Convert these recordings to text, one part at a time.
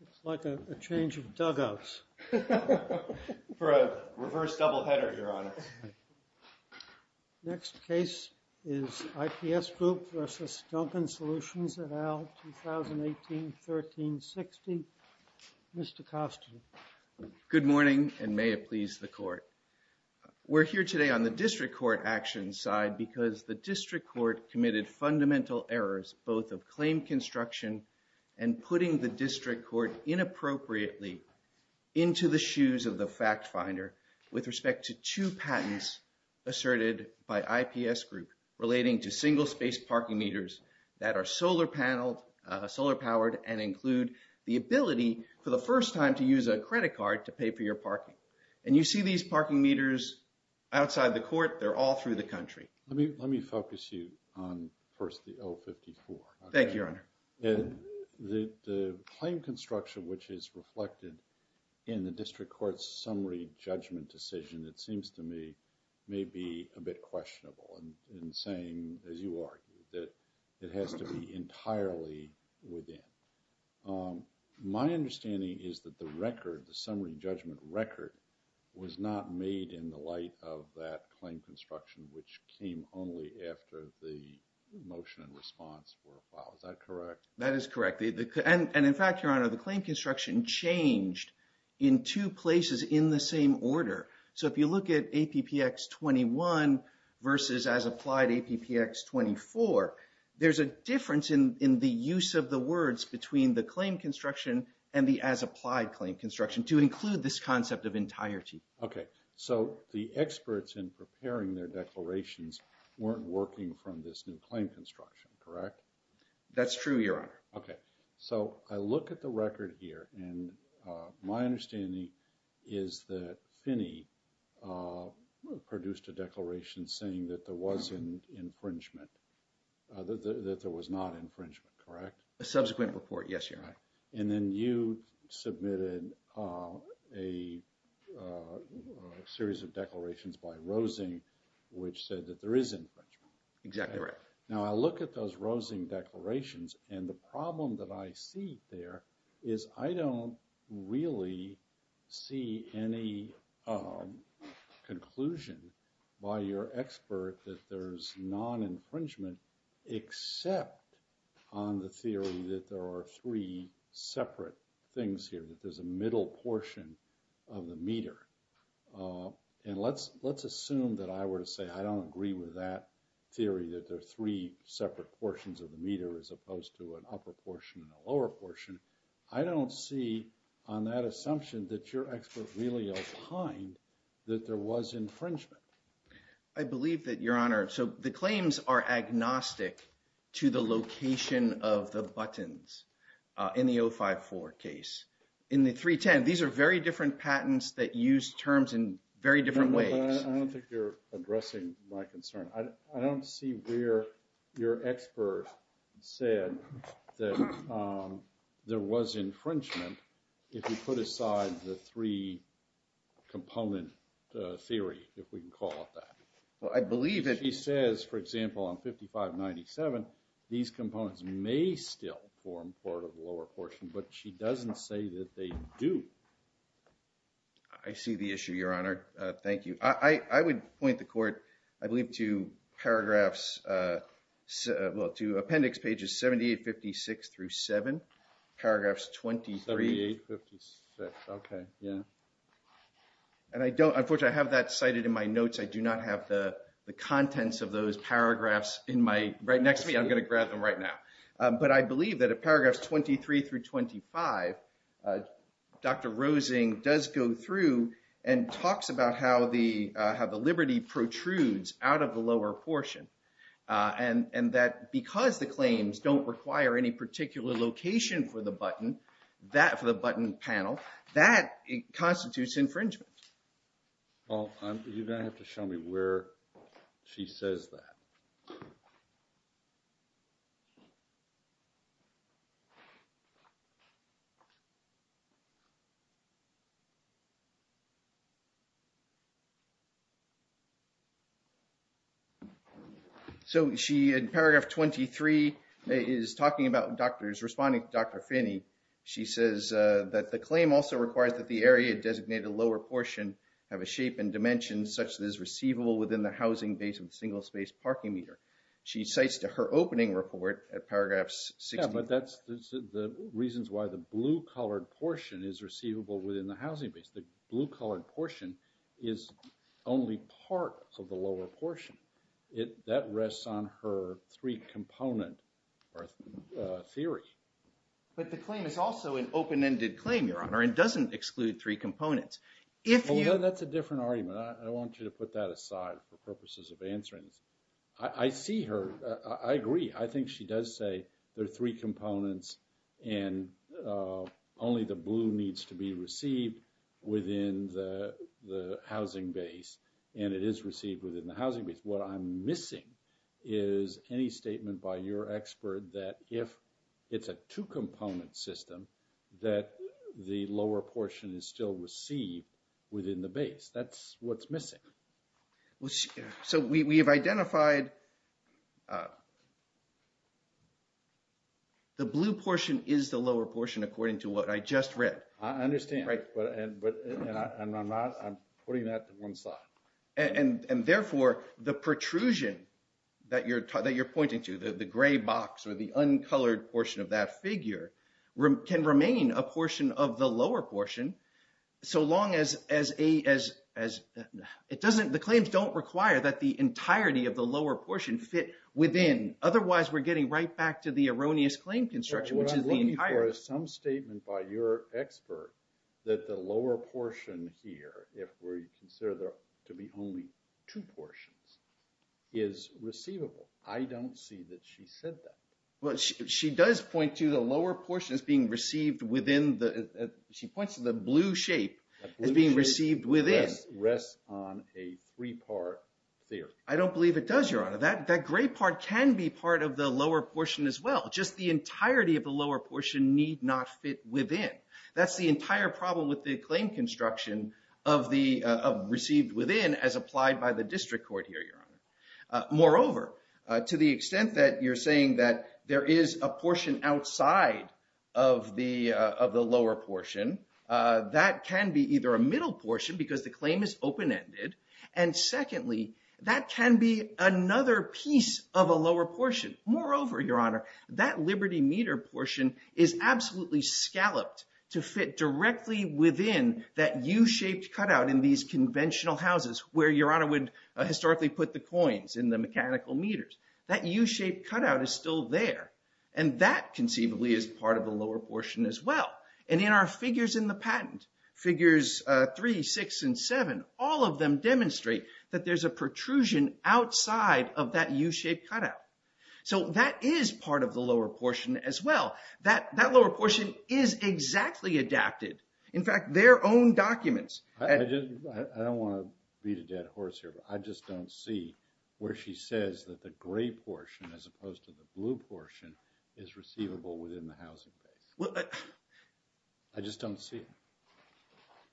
It's like a change of dugouts. For a reverse double header here on it. Next case is IPS Group v. Duncan Solutions at AL 2018-1360. Mr. Costner. Good morning and may it please the court. We're here today on the district court action side because the district court committed fundamental errors both of claim construction and putting the district court inappropriately into the asserted by IPS Group relating to single space parking meters that are solar paneled, solar powered, and include the ability for the first time to use a credit card to pay for your parking. And you see these parking meters outside the court. They're all through the country. Let me focus you on first the 054. Thank you, Your Honor. The claim construction which is reflected in the motion may be a bit questionable in saying, as you argue, that it has to be entirely within. My understanding is that the record, the summary judgment record, was not made in the light of that claim construction which came only after the motion and response were filed. Is that correct? That is correct. And in fact, Your Honor, the claim construction changed in two places in the same order. So if you look at APPX 21 versus as applied APPX 24, there's a difference in the use of the words between the claim construction and the as applied claim construction to include this concept of entirety. Okay. So the experts in preparing their declarations weren't working from this new claim construction, correct? That's true, Your Honor. Okay. So I look at the record here and my produced a declaration saying that there was an infringement, that there was not infringement, correct? A subsequent report, yes, Your Honor. And then you submitted a series of declarations by Rosing which said that there is infringement. Exactly. Now I look at those Rosing declarations and the problem that I see there is I don't really see any conclusion by your expert that there's non-infringement except on the theory that there are three separate things here, that there's a middle portion of the meter. And let's assume that I were to say I don't agree with that theory that there are three separate portions of the meter as opposed to an upper portion and a lower portion. I don't see on that assumption that your expert really opined that there was infringement. I believe that, Your Honor. So the claims are agnostic to the location of the buttons in the 054 case. In the 310, these are very different patents that use terms in very different ways. I don't think you're addressing my concern. I don't see where your expert said that there was infringement if you put aside the three component theory, if we can call it that. Well, I believe that he says, for example, on 5597, these components may still form part of the lower portion, but she doesn't say that they do. I see the issue, Your Honor. Thank you. I would point the paragraphs, well, to appendix pages 7856 through 7. Paragraphs 23. 7856, okay, yeah. And I don't, unfortunately, I have that cited in my notes. I do not have the contents of those paragraphs in my, right next to me, I'm going to grab them right now. But I believe that at paragraphs 23 through 25, Dr. Roseng does go through and talks about how the, how the liberty protrudes out of the lower portion, and and that because the claims don't require any particular location for the button, that for the button panel, that constitutes infringement. Well, you don't have to show me where she says that. So, she, in paragraph 23, is talking about doctors, responding to Dr. Finney, she says that the claim also requires that the area designated lower portion have a shape and dimension such that is receivable within the housing base of the single-space parking meter. She cites to her opening report at paragraphs 6. But that's the reasons why the blue colored portion is receivable within the housing base. The blue colored portion is only part of the lower portion. It, that rests on her three component theory. But the claim is also an open-ended claim, Your Honor, and doesn't exclude three components. If you... Well, that's a different argument. I want you to put that aside for purposes of answering. I see her, I agree. I think she does say there are three components and only the blue needs to be received within the housing base, and it is received within the housing base. What I'm missing is any statement by your expert that if it's a two-component system, that the lower portion is still received within the base. That's what's missing. So, we have identified the blue portion is the I understand, but I'm not, I'm putting that to one side. And therefore, the protrusion that you're pointing to, the gray box or the uncolored portion of that figure, can remain a portion of the lower portion so long as as a, as, it doesn't, the claims don't require that the entirety of the lower portion fit within. Otherwise, we're getting right back to the erroneous claim construction, which is the entire... What I'm looking for is some statement by your expert that the lower portion here, if we're consider there to be only two portions, is receivable. I don't see that she said that. Well, she does point to the lower portion as being received within the, she points to the blue shape as being received within. The blue shape rests on a three-part theory. I don't believe it does, Your Honor. That, that gray part can be part of the lower portion as well. Just the entirety of the lower portion need not fit within. That's the entire problem with the claim construction of the received within as applied by the district court here, Your Honor. Moreover, to the extent that you're saying that there is a portion outside of the, of the lower portion, that can be either a middle portion because the claim is open-ended, and secondly, that can be another piece of a lower portion. Moreover, Your Honor, that Liberty meter portion is absolutely scalloped to fit directly within that U-shaped cutout in these conventional houses where Your Honor would historically put the coins in the mechanical meters. That U-shaped cutout is still there, and that conceivably is part of the lower portion as well. And in our figures in the patent, figures three, six, and seven, all of them demonstrate that there's a protrusion outside of that U-shaped cutout. So that is part of the lower portion as well. That, that lower portion is exactly adapted. In fact, their own documents... I just, I don't want to beat a dead horse here, but I just don't see where she says that the gray portion as opposed to the blue portion is receivable within the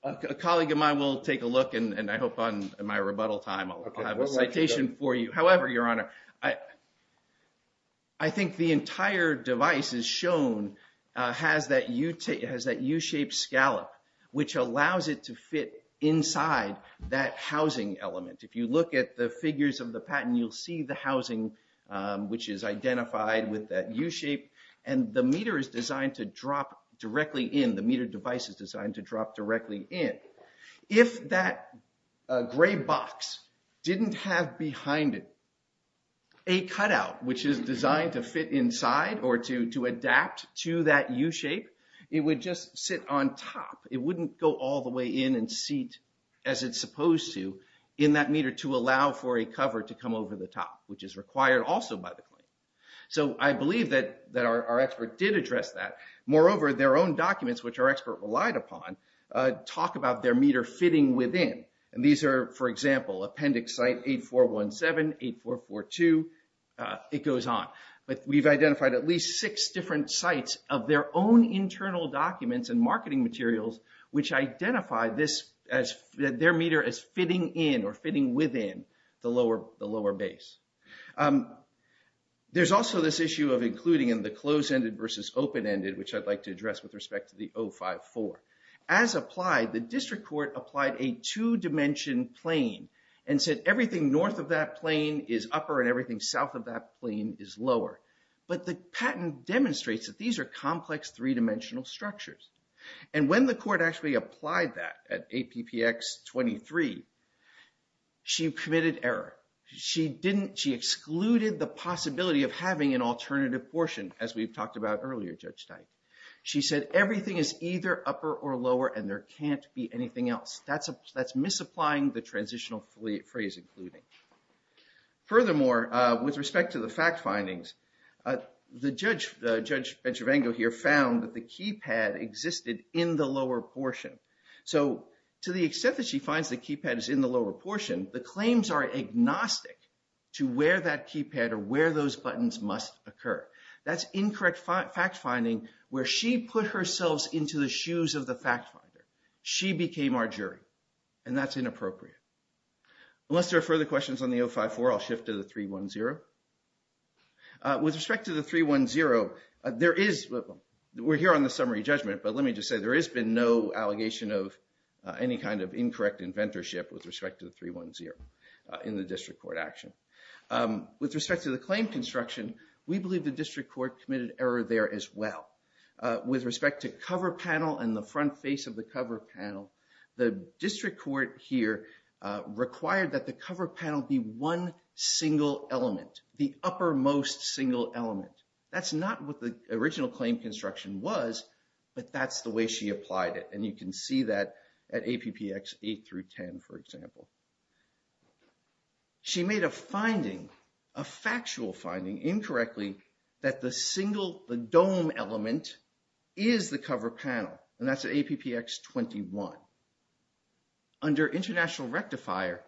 A colleague of mine will take a look, and I hope on my rebuttal time I'll have a citation for you. However, Your Honor, I, I think the entire device is shown, has that U, has that U-shaped scallop, which allows it to fit inside that housing element. If you look at the figures of the patent, you'll see the housing, which is identified with that U-shape, and the meter is designed to drop directly in. The meter device is designed to drop directly in. If that gray box didn't have behind it a cutout, which is designed to fit inside or to, to adapt to that U-shape, it would just sit on top. It wouldn't go all the way in and seat as it's supposed to in that meter to allow for a cover to come over the top, which is required also by the claim. So I believe that, that our expert did address that. Moreover, their own documents, which our expert relied upon, talk about their meter fitting within. And these are, for example, Appendix Site 8417, 8442, it goes on. But we've identified at least six different sites of their own internal documents and marketing materials which identify this as, their meter as fitting in or fitting within the lower, the lower base. There's also this issue of including in the closed-ended versus open-ended, which I'd like to address with respect to the 054. As applied, the district court applied a two-dimension plane and said everything north of that plane is upper and everything south of that plane is lower. But the patent demonstrates that these are complex three-dimensional structures. And when the court actually applied that at APPX 23, she committed error. She didn't, she excluded the possibility of having an alternative portion, as we've talked about earlier, Judge Teich. She said everything is either upper or lower and there can't be anything else. That's a, that's misapplying the transitional phrase including. Furthermore, with respect to the fact findings, the judge, Judge Betravango here, found that the keypad existed in the lower portion. So to the extent that she finds the keypad is in the lower portion, the claims are agnostic to where that keypad or where those buttons must occur. That's incorrect fact finding where she put herself into the shoes of the fact finder. She became our jury and that's inappropriate. Unless there are further questions on the 054, I'll shift to the 310. With respect to the 310, there is, we're here on the summary judgment, but let me just say there has been no allegation of any kind of incorrect inventorship with respect to the 310 in the district court action. With respect to the claim construction, we believe the error there as well. With respect to cover panel and the front face of the cover panel, the district court here required that the cover panel be one single element, the uppermost single element. That's not what the original claim construction was, but that's the way she applied it and you can see that at APPX 8 through 10 for example. She made a finding, a factual finding incorrectly, that the single, the dome element is the cover panel and that's at APPX 21. Under international rectifier,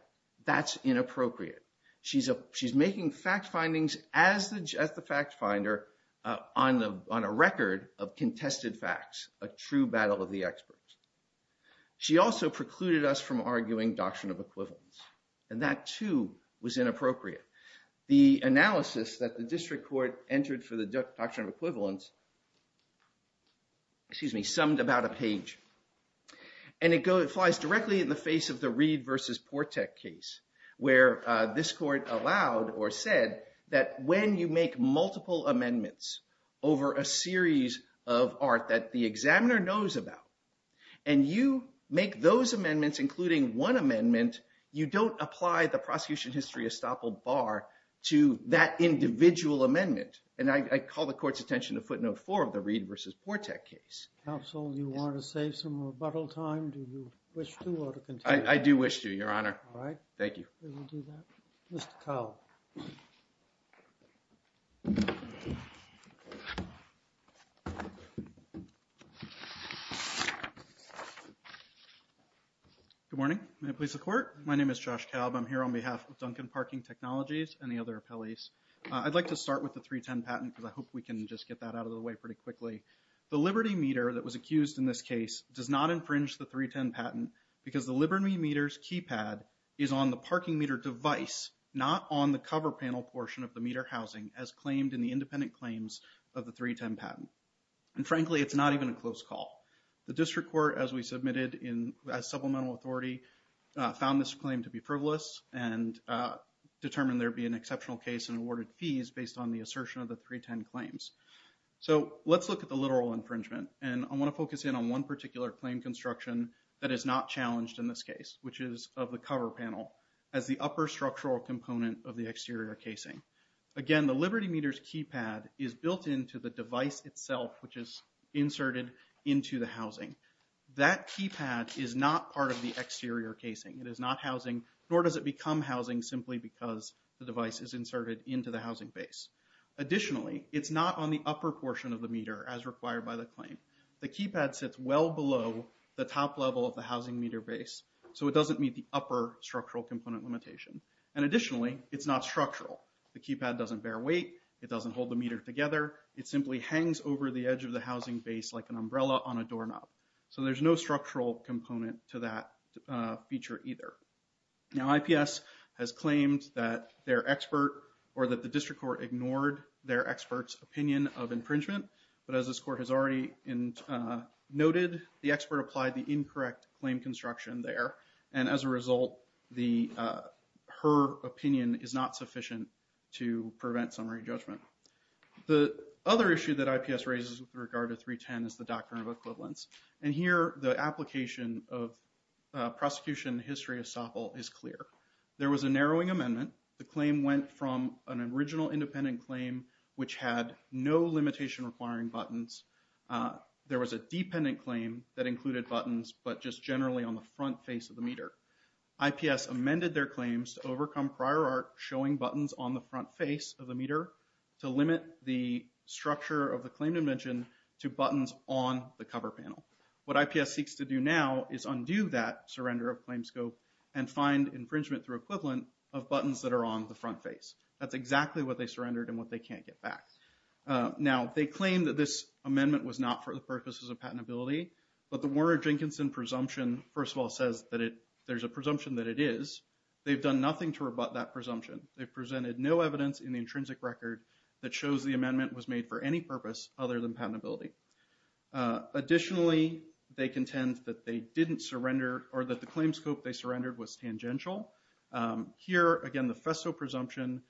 that's inappropriate. She's making fact findings as the fact finder on a record of contested facts, a true battle of the experts. She also precluded us from arguing doctrine of equivalence and that too was inappropriate. The analysis that the district court entered for the doctrine of equivalence, excuse me, summed about a page and it flies directly in the face of the Reed versus Portek case where this court allowed or said that when you make multiple amendments over a series of art that the examiner knows about and you make those amendments including one amendment, you don't apply the prosecution history estoppel bar to that individual amendment and I call the court's attention to footnote four of the Reed versus Portek case. Counsel, do you want to save some rebuttal time? Do you wish to or to continue? I do wish to, Your Honor. All right. Thank you. Mr. Kalb. Good morning. May it please the court. My name is Josh Kalb. I'm here on behalf of Duncan Parking Technologies and the other appellees. I'd like to start with the 310 patent because I hope we can just get that out of the way pretty quickly. The Liberty meter that was accused in this case does not infringe the 310 patent because the Liberty meters keypad is on the parking meter device not on the cover panel portion of the meter housing as claimed in the independent claims of the 310 patent and frankly it's not even a close call. The district court as we submitted in as supplemental authority found this claim to be frivolous and determined there be an exceptional case and awarded fees based on the assertion of the 310 claims. So let's look at the literal infringement and I want to focus in on one particular claim construction that is not challenged in this case which is of the cover panel as the upper structural component of the exterior casing. Again the Liberty meters keypad is built into the device itself which is inserted into the housing. That keypad is not part of the exterior casing. It is not housing nor does it become housing simply because the device is inserted into the housing base. Additionally it's not on the upper portion of the meter as required by the claim. The keypad sits well below the top level of the housing meter base so it doesn't meet the upper structural component limitation and additionally it's not structural. The keypad doesn't bear weight. It doesn't hold the meter together. It simply hangs over the edge of the housing base like an umbrella on a doorknob. So there's no structural component to that feature either. Now IPS has claimed that their experts opinion of infringement but as this court has already noted the expert applied the incorrect claim construction there and as a result the her opinion is not sufficient to prevent summary judgment. The other issue that IPS raises with regard to 310 is the doctrine of equivalence and here the application of prosecution history of Staple is clear. There was a narrowing amendment. The which had no limitation requiring buttons. There was a dependent claim that included buttons but just generally on the front face of the meter. IPS amended their claims to overcome prior art showing buttons on the front face of the meter to limit the structure of the claim dimension to buttons on the cover panel. What IPS seeks to do now is undo that surrender of claim scope and find infringement through equivalent of buttons that are on the front face. That's exactly what they surrendered and what they can't get back. Now they claim that this amendment was not for the purposes of patentability but the Warner-Jenkinson presumption first of all says that it there's a presumption that it is. They've done nothing to rebut that presumption. They've presented no evidence in the intrinsic record that shows the amendment was made for any purpose other than patentability. Additionally they contend that they didn't surrender or that the claim scope they surrendered was tangential. Here again the Festo presumption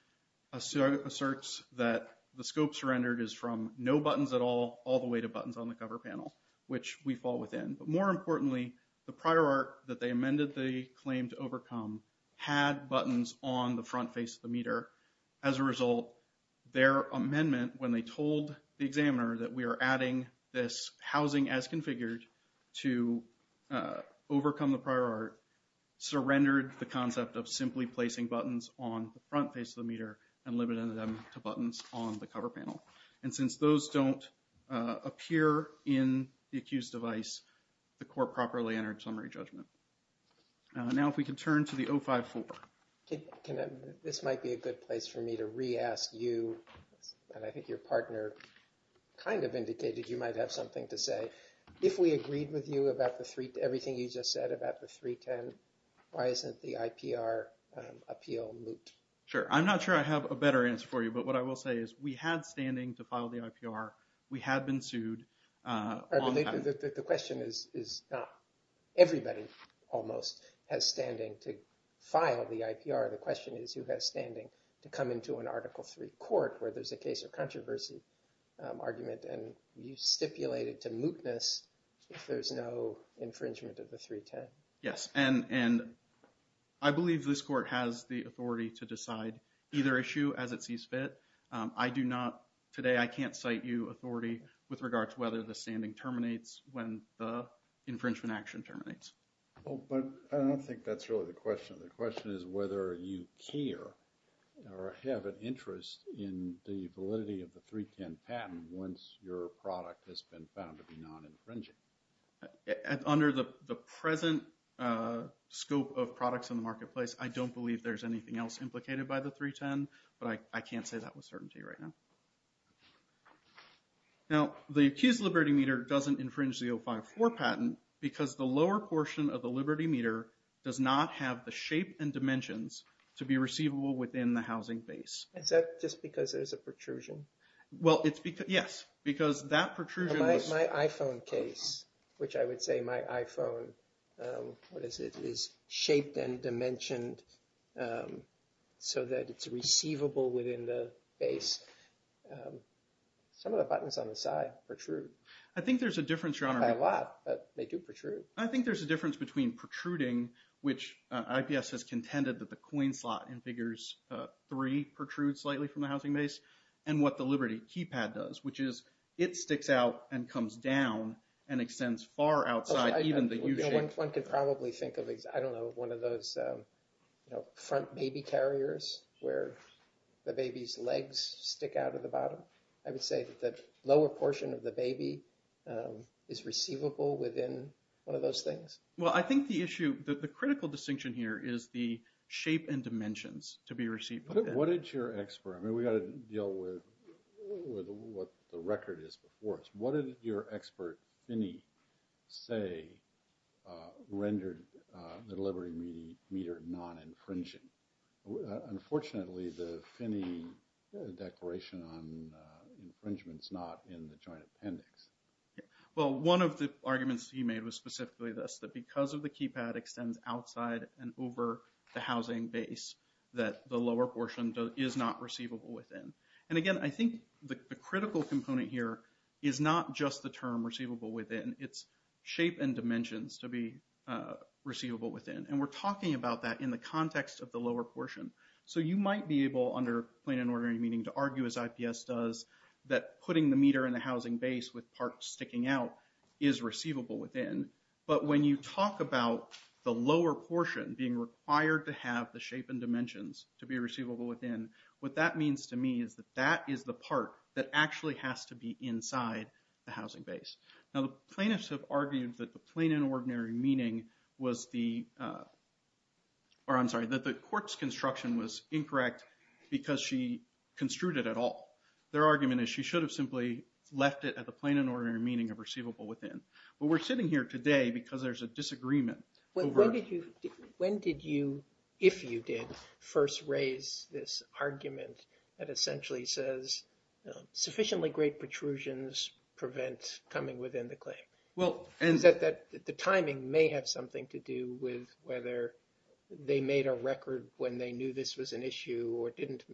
asserts that the scope surrendered is from no buttons at all all the way to buttons on the cover panel which we fall within. But more importantly the prior art that they amended the claim to overcome had buttons on the front face of the meter. As a result their amendment when they told the examiner that we are adding this housing as configured to overcome the prior art surrendered the concept of simply placing buttons on the front face of the meter and limited them to buttons on the cover panel. And since those don't appear in the accused device the court properly entered summary judgment. Now if we can turn to the 054. This might be a good place for me to re-ask you and I think your partner kind of indicated you might have something to add to 310. Why isn't the IPR appeal moot? Sure I'm not sure I have a better answer for you but what I will say is we had standing to file the IPR. We had been sued. The question is not everybody almost has standing to file the IPR. The question is who has standing to come into an article 3 court where there's a case of controversy argument and you stipulated to mootness if there's no infringement of the 310. Yes and I believe this court has the authority to decide either issue as it sees fit. I do not today I can't cite you authority with regard to whether the standing terminates when the infringement action terminates. Oh but I don't think that's really the question. The question is whether you care or have an interest in the validity of the 310 patent once your the present scope of products in the marketplace. I don't believe there's anything else implicated by the 310 but I can't say that with certainty right now. Now the accused Liberty meter doesn't infringe the 054 patent because the lower portion of the Liberty meter does not have the shape and dimensions to be receivable within the housing base. Is that just because there's a protrusion? Well it's because yes because that protrusion. My iPhone case which I would say my iPhone what is it is shaped and dimensioned so that it's receivable within the base. Some of the buttons on the side protrude. I think there's a difference. I think there's a difference between protruding which IPS has contended that the coin slot in figures 3 protrudes slightly from the housing base and what the Liberty keypad does which is it One could probably think of one of those you know front baby carriers where the baby's legs stick out of the bottom. I would say that lower portion of the baby is receivable within one of those things. Well I think the issue that the critical distinction here is the shape and dimensions to be receivable. What did your expert, I mean we got to deal with what the record is What did your expert Finney say rendered the Liberty meter non-infringing? Unfortunately the Finney declaration on infringements not in the joint appendix. Well one of the arguments he made was specifically this that because of the keypad extends outside and over the housing base that the lower portion is not receivable within. And again I think the critical component here is not just the term receivable within its shape and dimensions to be receivable within. And we're talking about that in the context of the lower portion. So you might be able under plain and ordinary meaning to argue as IPS does that putting the meter in the housing base with parts sticking out is receivable within. But when you talk about the lower portion being required to have the shape and dimensions, what that means to me is that that is the part that actually has to be inside the housing base. Now the plaintiffs have argued that the plain and ordinary meaning was the, or I'm sorry, that the court's construction was incorrect because she construed it at all. Their argument is she should have simply left it at the plain and ordinary meaning of receivable within. But we're sitting here today because there's a disagreement. When did you, if you did, first raise this argument that essentially says sufficiently great protrusions prevent coming within the claim? Well, and that the timing may have something to do with whether they made a record when they knew this was an issue or didn't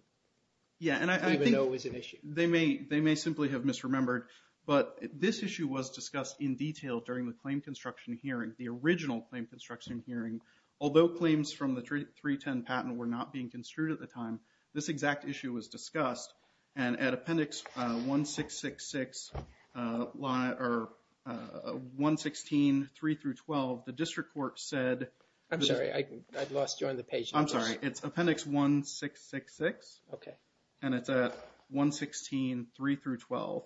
even know it was an issue. Yeah, and I think they may simply have misremembered. But this issue was discussed in detail during the claim construction hearing, the original claim construction hearing. Although claims from the 310 patent were not being construed at the time, this exact issue was discussed. And at appendix 1666, or 116, 3 through 12, the district court said. I'm sorry, I lost you on the page. I'm sorry, it's appendix 1666. Okay. And it's at 116, 3 through 12.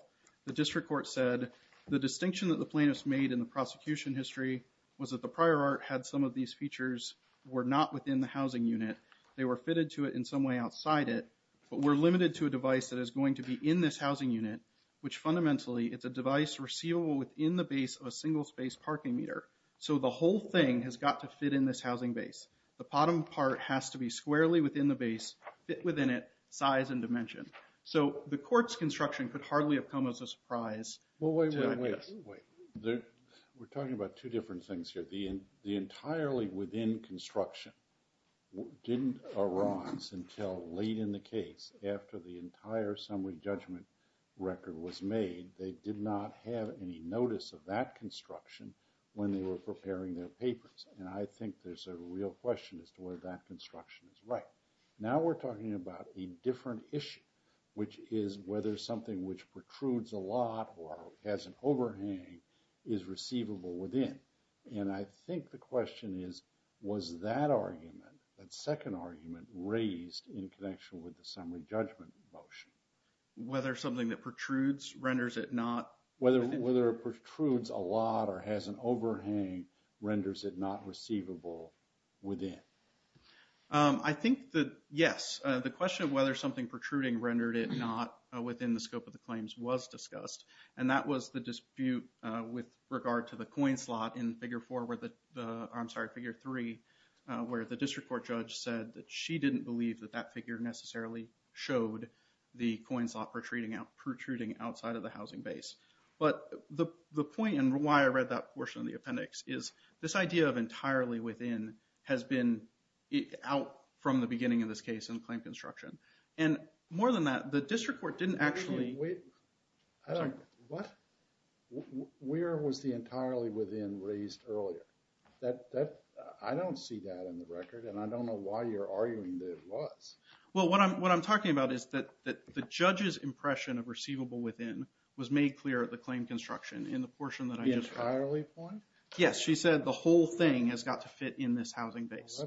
The district court said the distinction that the plaintiffs made in the prosecution history was that the prior art had some of these features were not within the housing unit. They were fitted to it in some way outside it. But we're limited to a device that is going to be in this housing unit, which fundamentally it's a device receivable within the base of a single space parking meter. So the whole thing has got to fit in this housing base. The bottom part has to be squarely within the base, fit within it, size and dimension. So the court's construction could hardly have come as a surprise. Wait, wait, wait. We're talking about two different things here. The entirely within construction didn't arouse until late in the case after the entire summary judgment record was made. They did not have any notice of that construction when they were preparing their papers. And I think there's a real question as to where that construction is right. Now we're talking about a different issue, which is whether something which protrudes a lot or has an overhang is receivable within. And I think the question is, was that argument, that second argument, raised in connection with the summary judgment motion? Whether something that protrudes renders it not? Whether it protrudes a lot or has an overhang renders it not receivable within. I think that, yes, the question of whether something within the scope of the claims was discussed. And that was the dispute with regard to the coin slot in Figure 4, I'm sorry, Figure 3, where the district court judge said that she didn't believe that that figure necessarily showed the coin slot protruding outside of the housing base. But the point and why I read that portion of the appendix is this idea of entirely within has been out from the beginning of this case in more than that, the district court didn't actually. Where was the entirely within raised earlier? I don't see that in the record and I don't know why you're arguing that it was. Well, what I'm talking about is that the judge's impression of receivable within was made clear at the claim construction in the portion that I just read. The entirely point? Yes, she said the whole thing has got to fit in this housing base.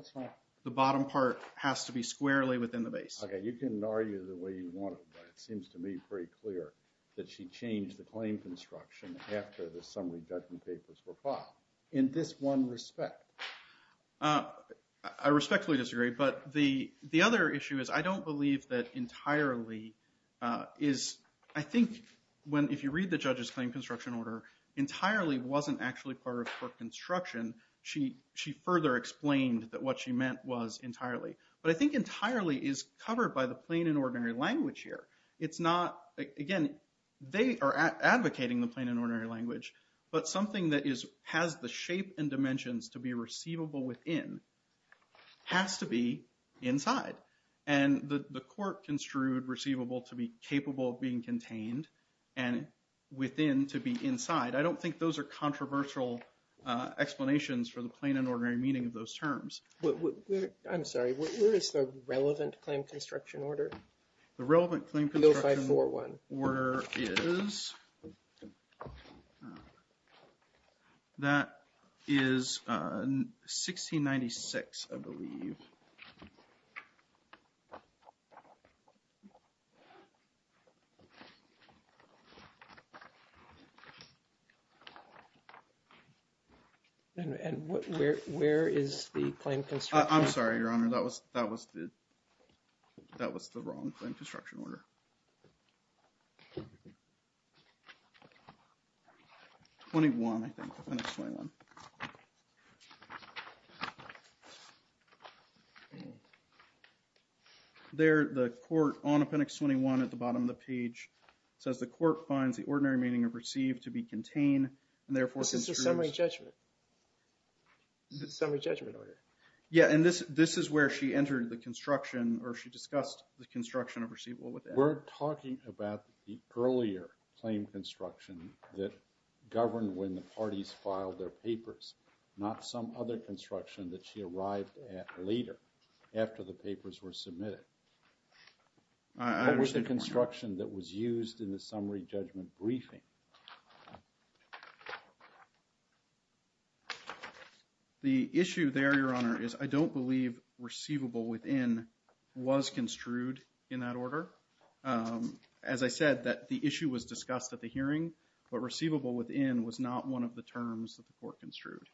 The bottom part has to be squarely within the base. Okay, you can argue the way you want, but it seems to me pretty clear that she changed the claim construction after the summary judgment papers were filed in this one respect. I respectfully disagree, but the other issue is I don't believe that entirely is, I think when if you read the judge's claim construction order, entirely wasn't actually part of court construction. She further explained that what she meant was entirely, but I think entirely is covered by the plain and ordinary language here. It's not, again, they are advocating the plain and ordinary language, but something that has the shape and dimensions to be receivable within has to be inside and the court construed receivable to be capable of being contained and within to be inside. I don't think those are I'm sorry, where is the relevant claim construction order? The relevant claim construction order is that is 1696, I believe. And where is the claim construction order? I'm sorry, Your Honor, that was the wrong claim construction order. 21, I think, Appendix 21. There, the court on Appendix 21 at the bottom of the page says the court finds the ordinary meaning of received to be contained and therefore construed... This is the summary judgment order. Yeah, and this this is where she entered the construction or she discussed the We're talking about the earlier claim construction that governed when the parties filed their papers, not some other construction that she arrived at later after the papers were submitted. What was the construction that was used in the summary judgment briefing? The issue there, Your Honor, is I don't believe receivable within was construed in that order. As I said, that the issue was discussed at the hearing, but receivable within was not one of the terms that the court construed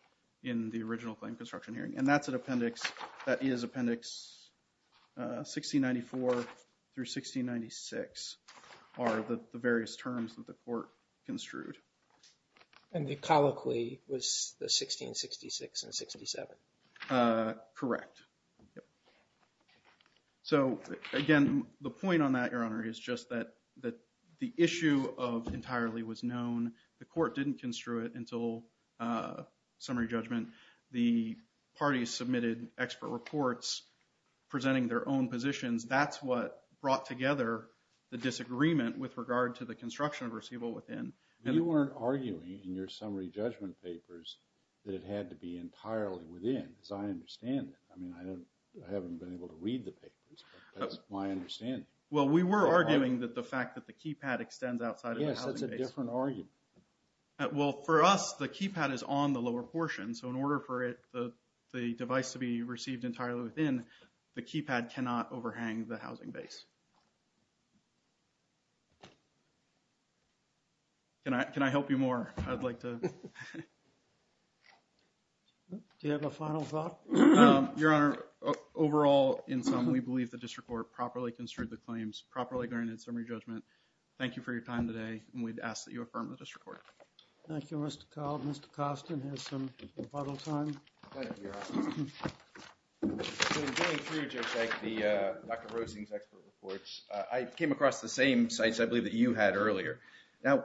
in the original claim construction hearing. And that's an appendix that is Appendix 1694 through 1696 are the various terms that the So, again, the point on that, Your Honor, is just that the issue of entirely was known. The court didn't construe it until summary judgment. The parties submitted expert reports presenting their own positions. That's what brought together the disagreement with regard to the construction of receivable within. You weren't arguing in your summary judgment papers that it had to be I haven't been able to read the papers. That's my understanding. Well, we were arguing that the fact that the keypad extends outside of the housing base. Yes, that's a different argument. Well, for us, the keypad is on the lower portion, so in order for it, the device to be received entirely within, the keypad cannot overhang the housing base. Can I, can I help you more? I'd like to. Do you have a final thought? Your Honor, overall, in sum, we believe the district court properly construed the claims, properly granted summary judgment. Thank you for your time today, and we'd ask that you affirm the I came across the same sites, I believe, that you had earlier. Now,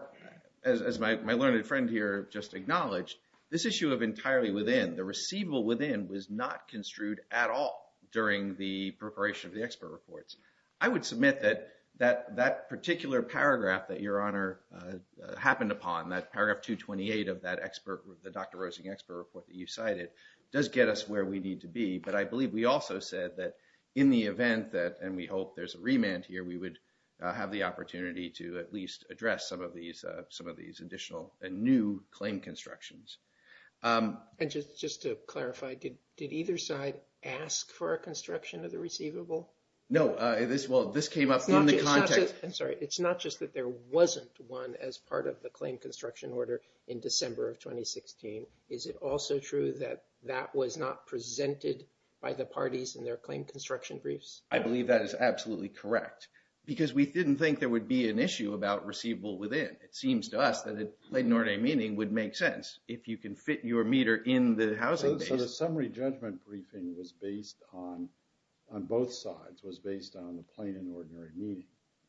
as my learned friend here just acknowledged, this issue of entirely within, the receivable within, was not construed at all during the preparation of the expert reports. I would submit that that particular paragraph that, Your Honor, happened upon, that paragraph 228 of that expert, the Dr. Rosing expert report that you cited, does get us where we need to be, but I believe we also said that in the end here, we would have the opportunity to at least address some of these, some of these additional and new claim constructions. And just to clarify, did did either side ask for a construction of the receivable? No, this, well, this came up in the context. I'm sorry, it's not just that there wasn't one as part of the claim construction order in December of 2016, is it also true that that was not presented by the parties in their claim construction briefs? I believe that is correct, because we didn't think there would be an issue about receivable within. It seems to us that a plain and ordinary meeting would make sense if you can fit your meter in the housing. So the summary judgment briefing was based on, on both sides, was based on the plain and ordinary meeting.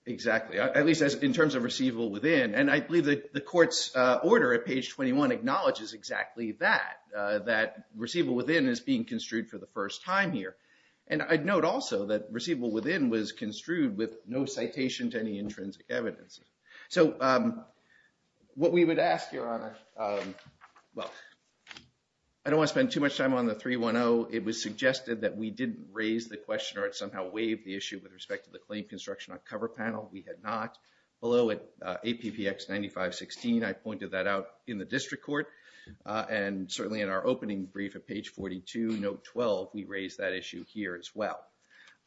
Exactly, at least as in terms of receivable within, and I believe that the court's order at page 21 acknowledges exactly that, that receivable within is being construed for the first time here. And I'd note also that receivable within was construed with no citation to any intrinsic evidence. So what we would ask, Your Honor, well, I don't want to spend too much time on the 310. It was suggested that we didn't raise the question or it somehow waived the issue with respect to the claim construction on cover panel. We had not. Although at APPX 9516, I pointed that out in the district court, and certainly in our opening brief at page 42, note 12, we didn't raise that issue here as well.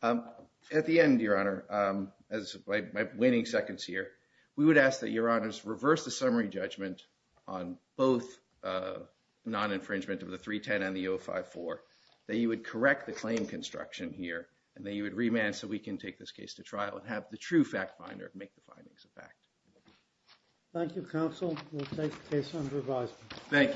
At the end, Your Honor, as my waiting seconds here, we would ask that Your Honors reverse the summary judgment on both non-infringement of the 310 and the 054, that you would correct the claim construction here, and that you would remand so we can take this case to trial and have the true fact finder make the findings of fact. Thank you, counsel. We'll take the case under advisement. Thank you.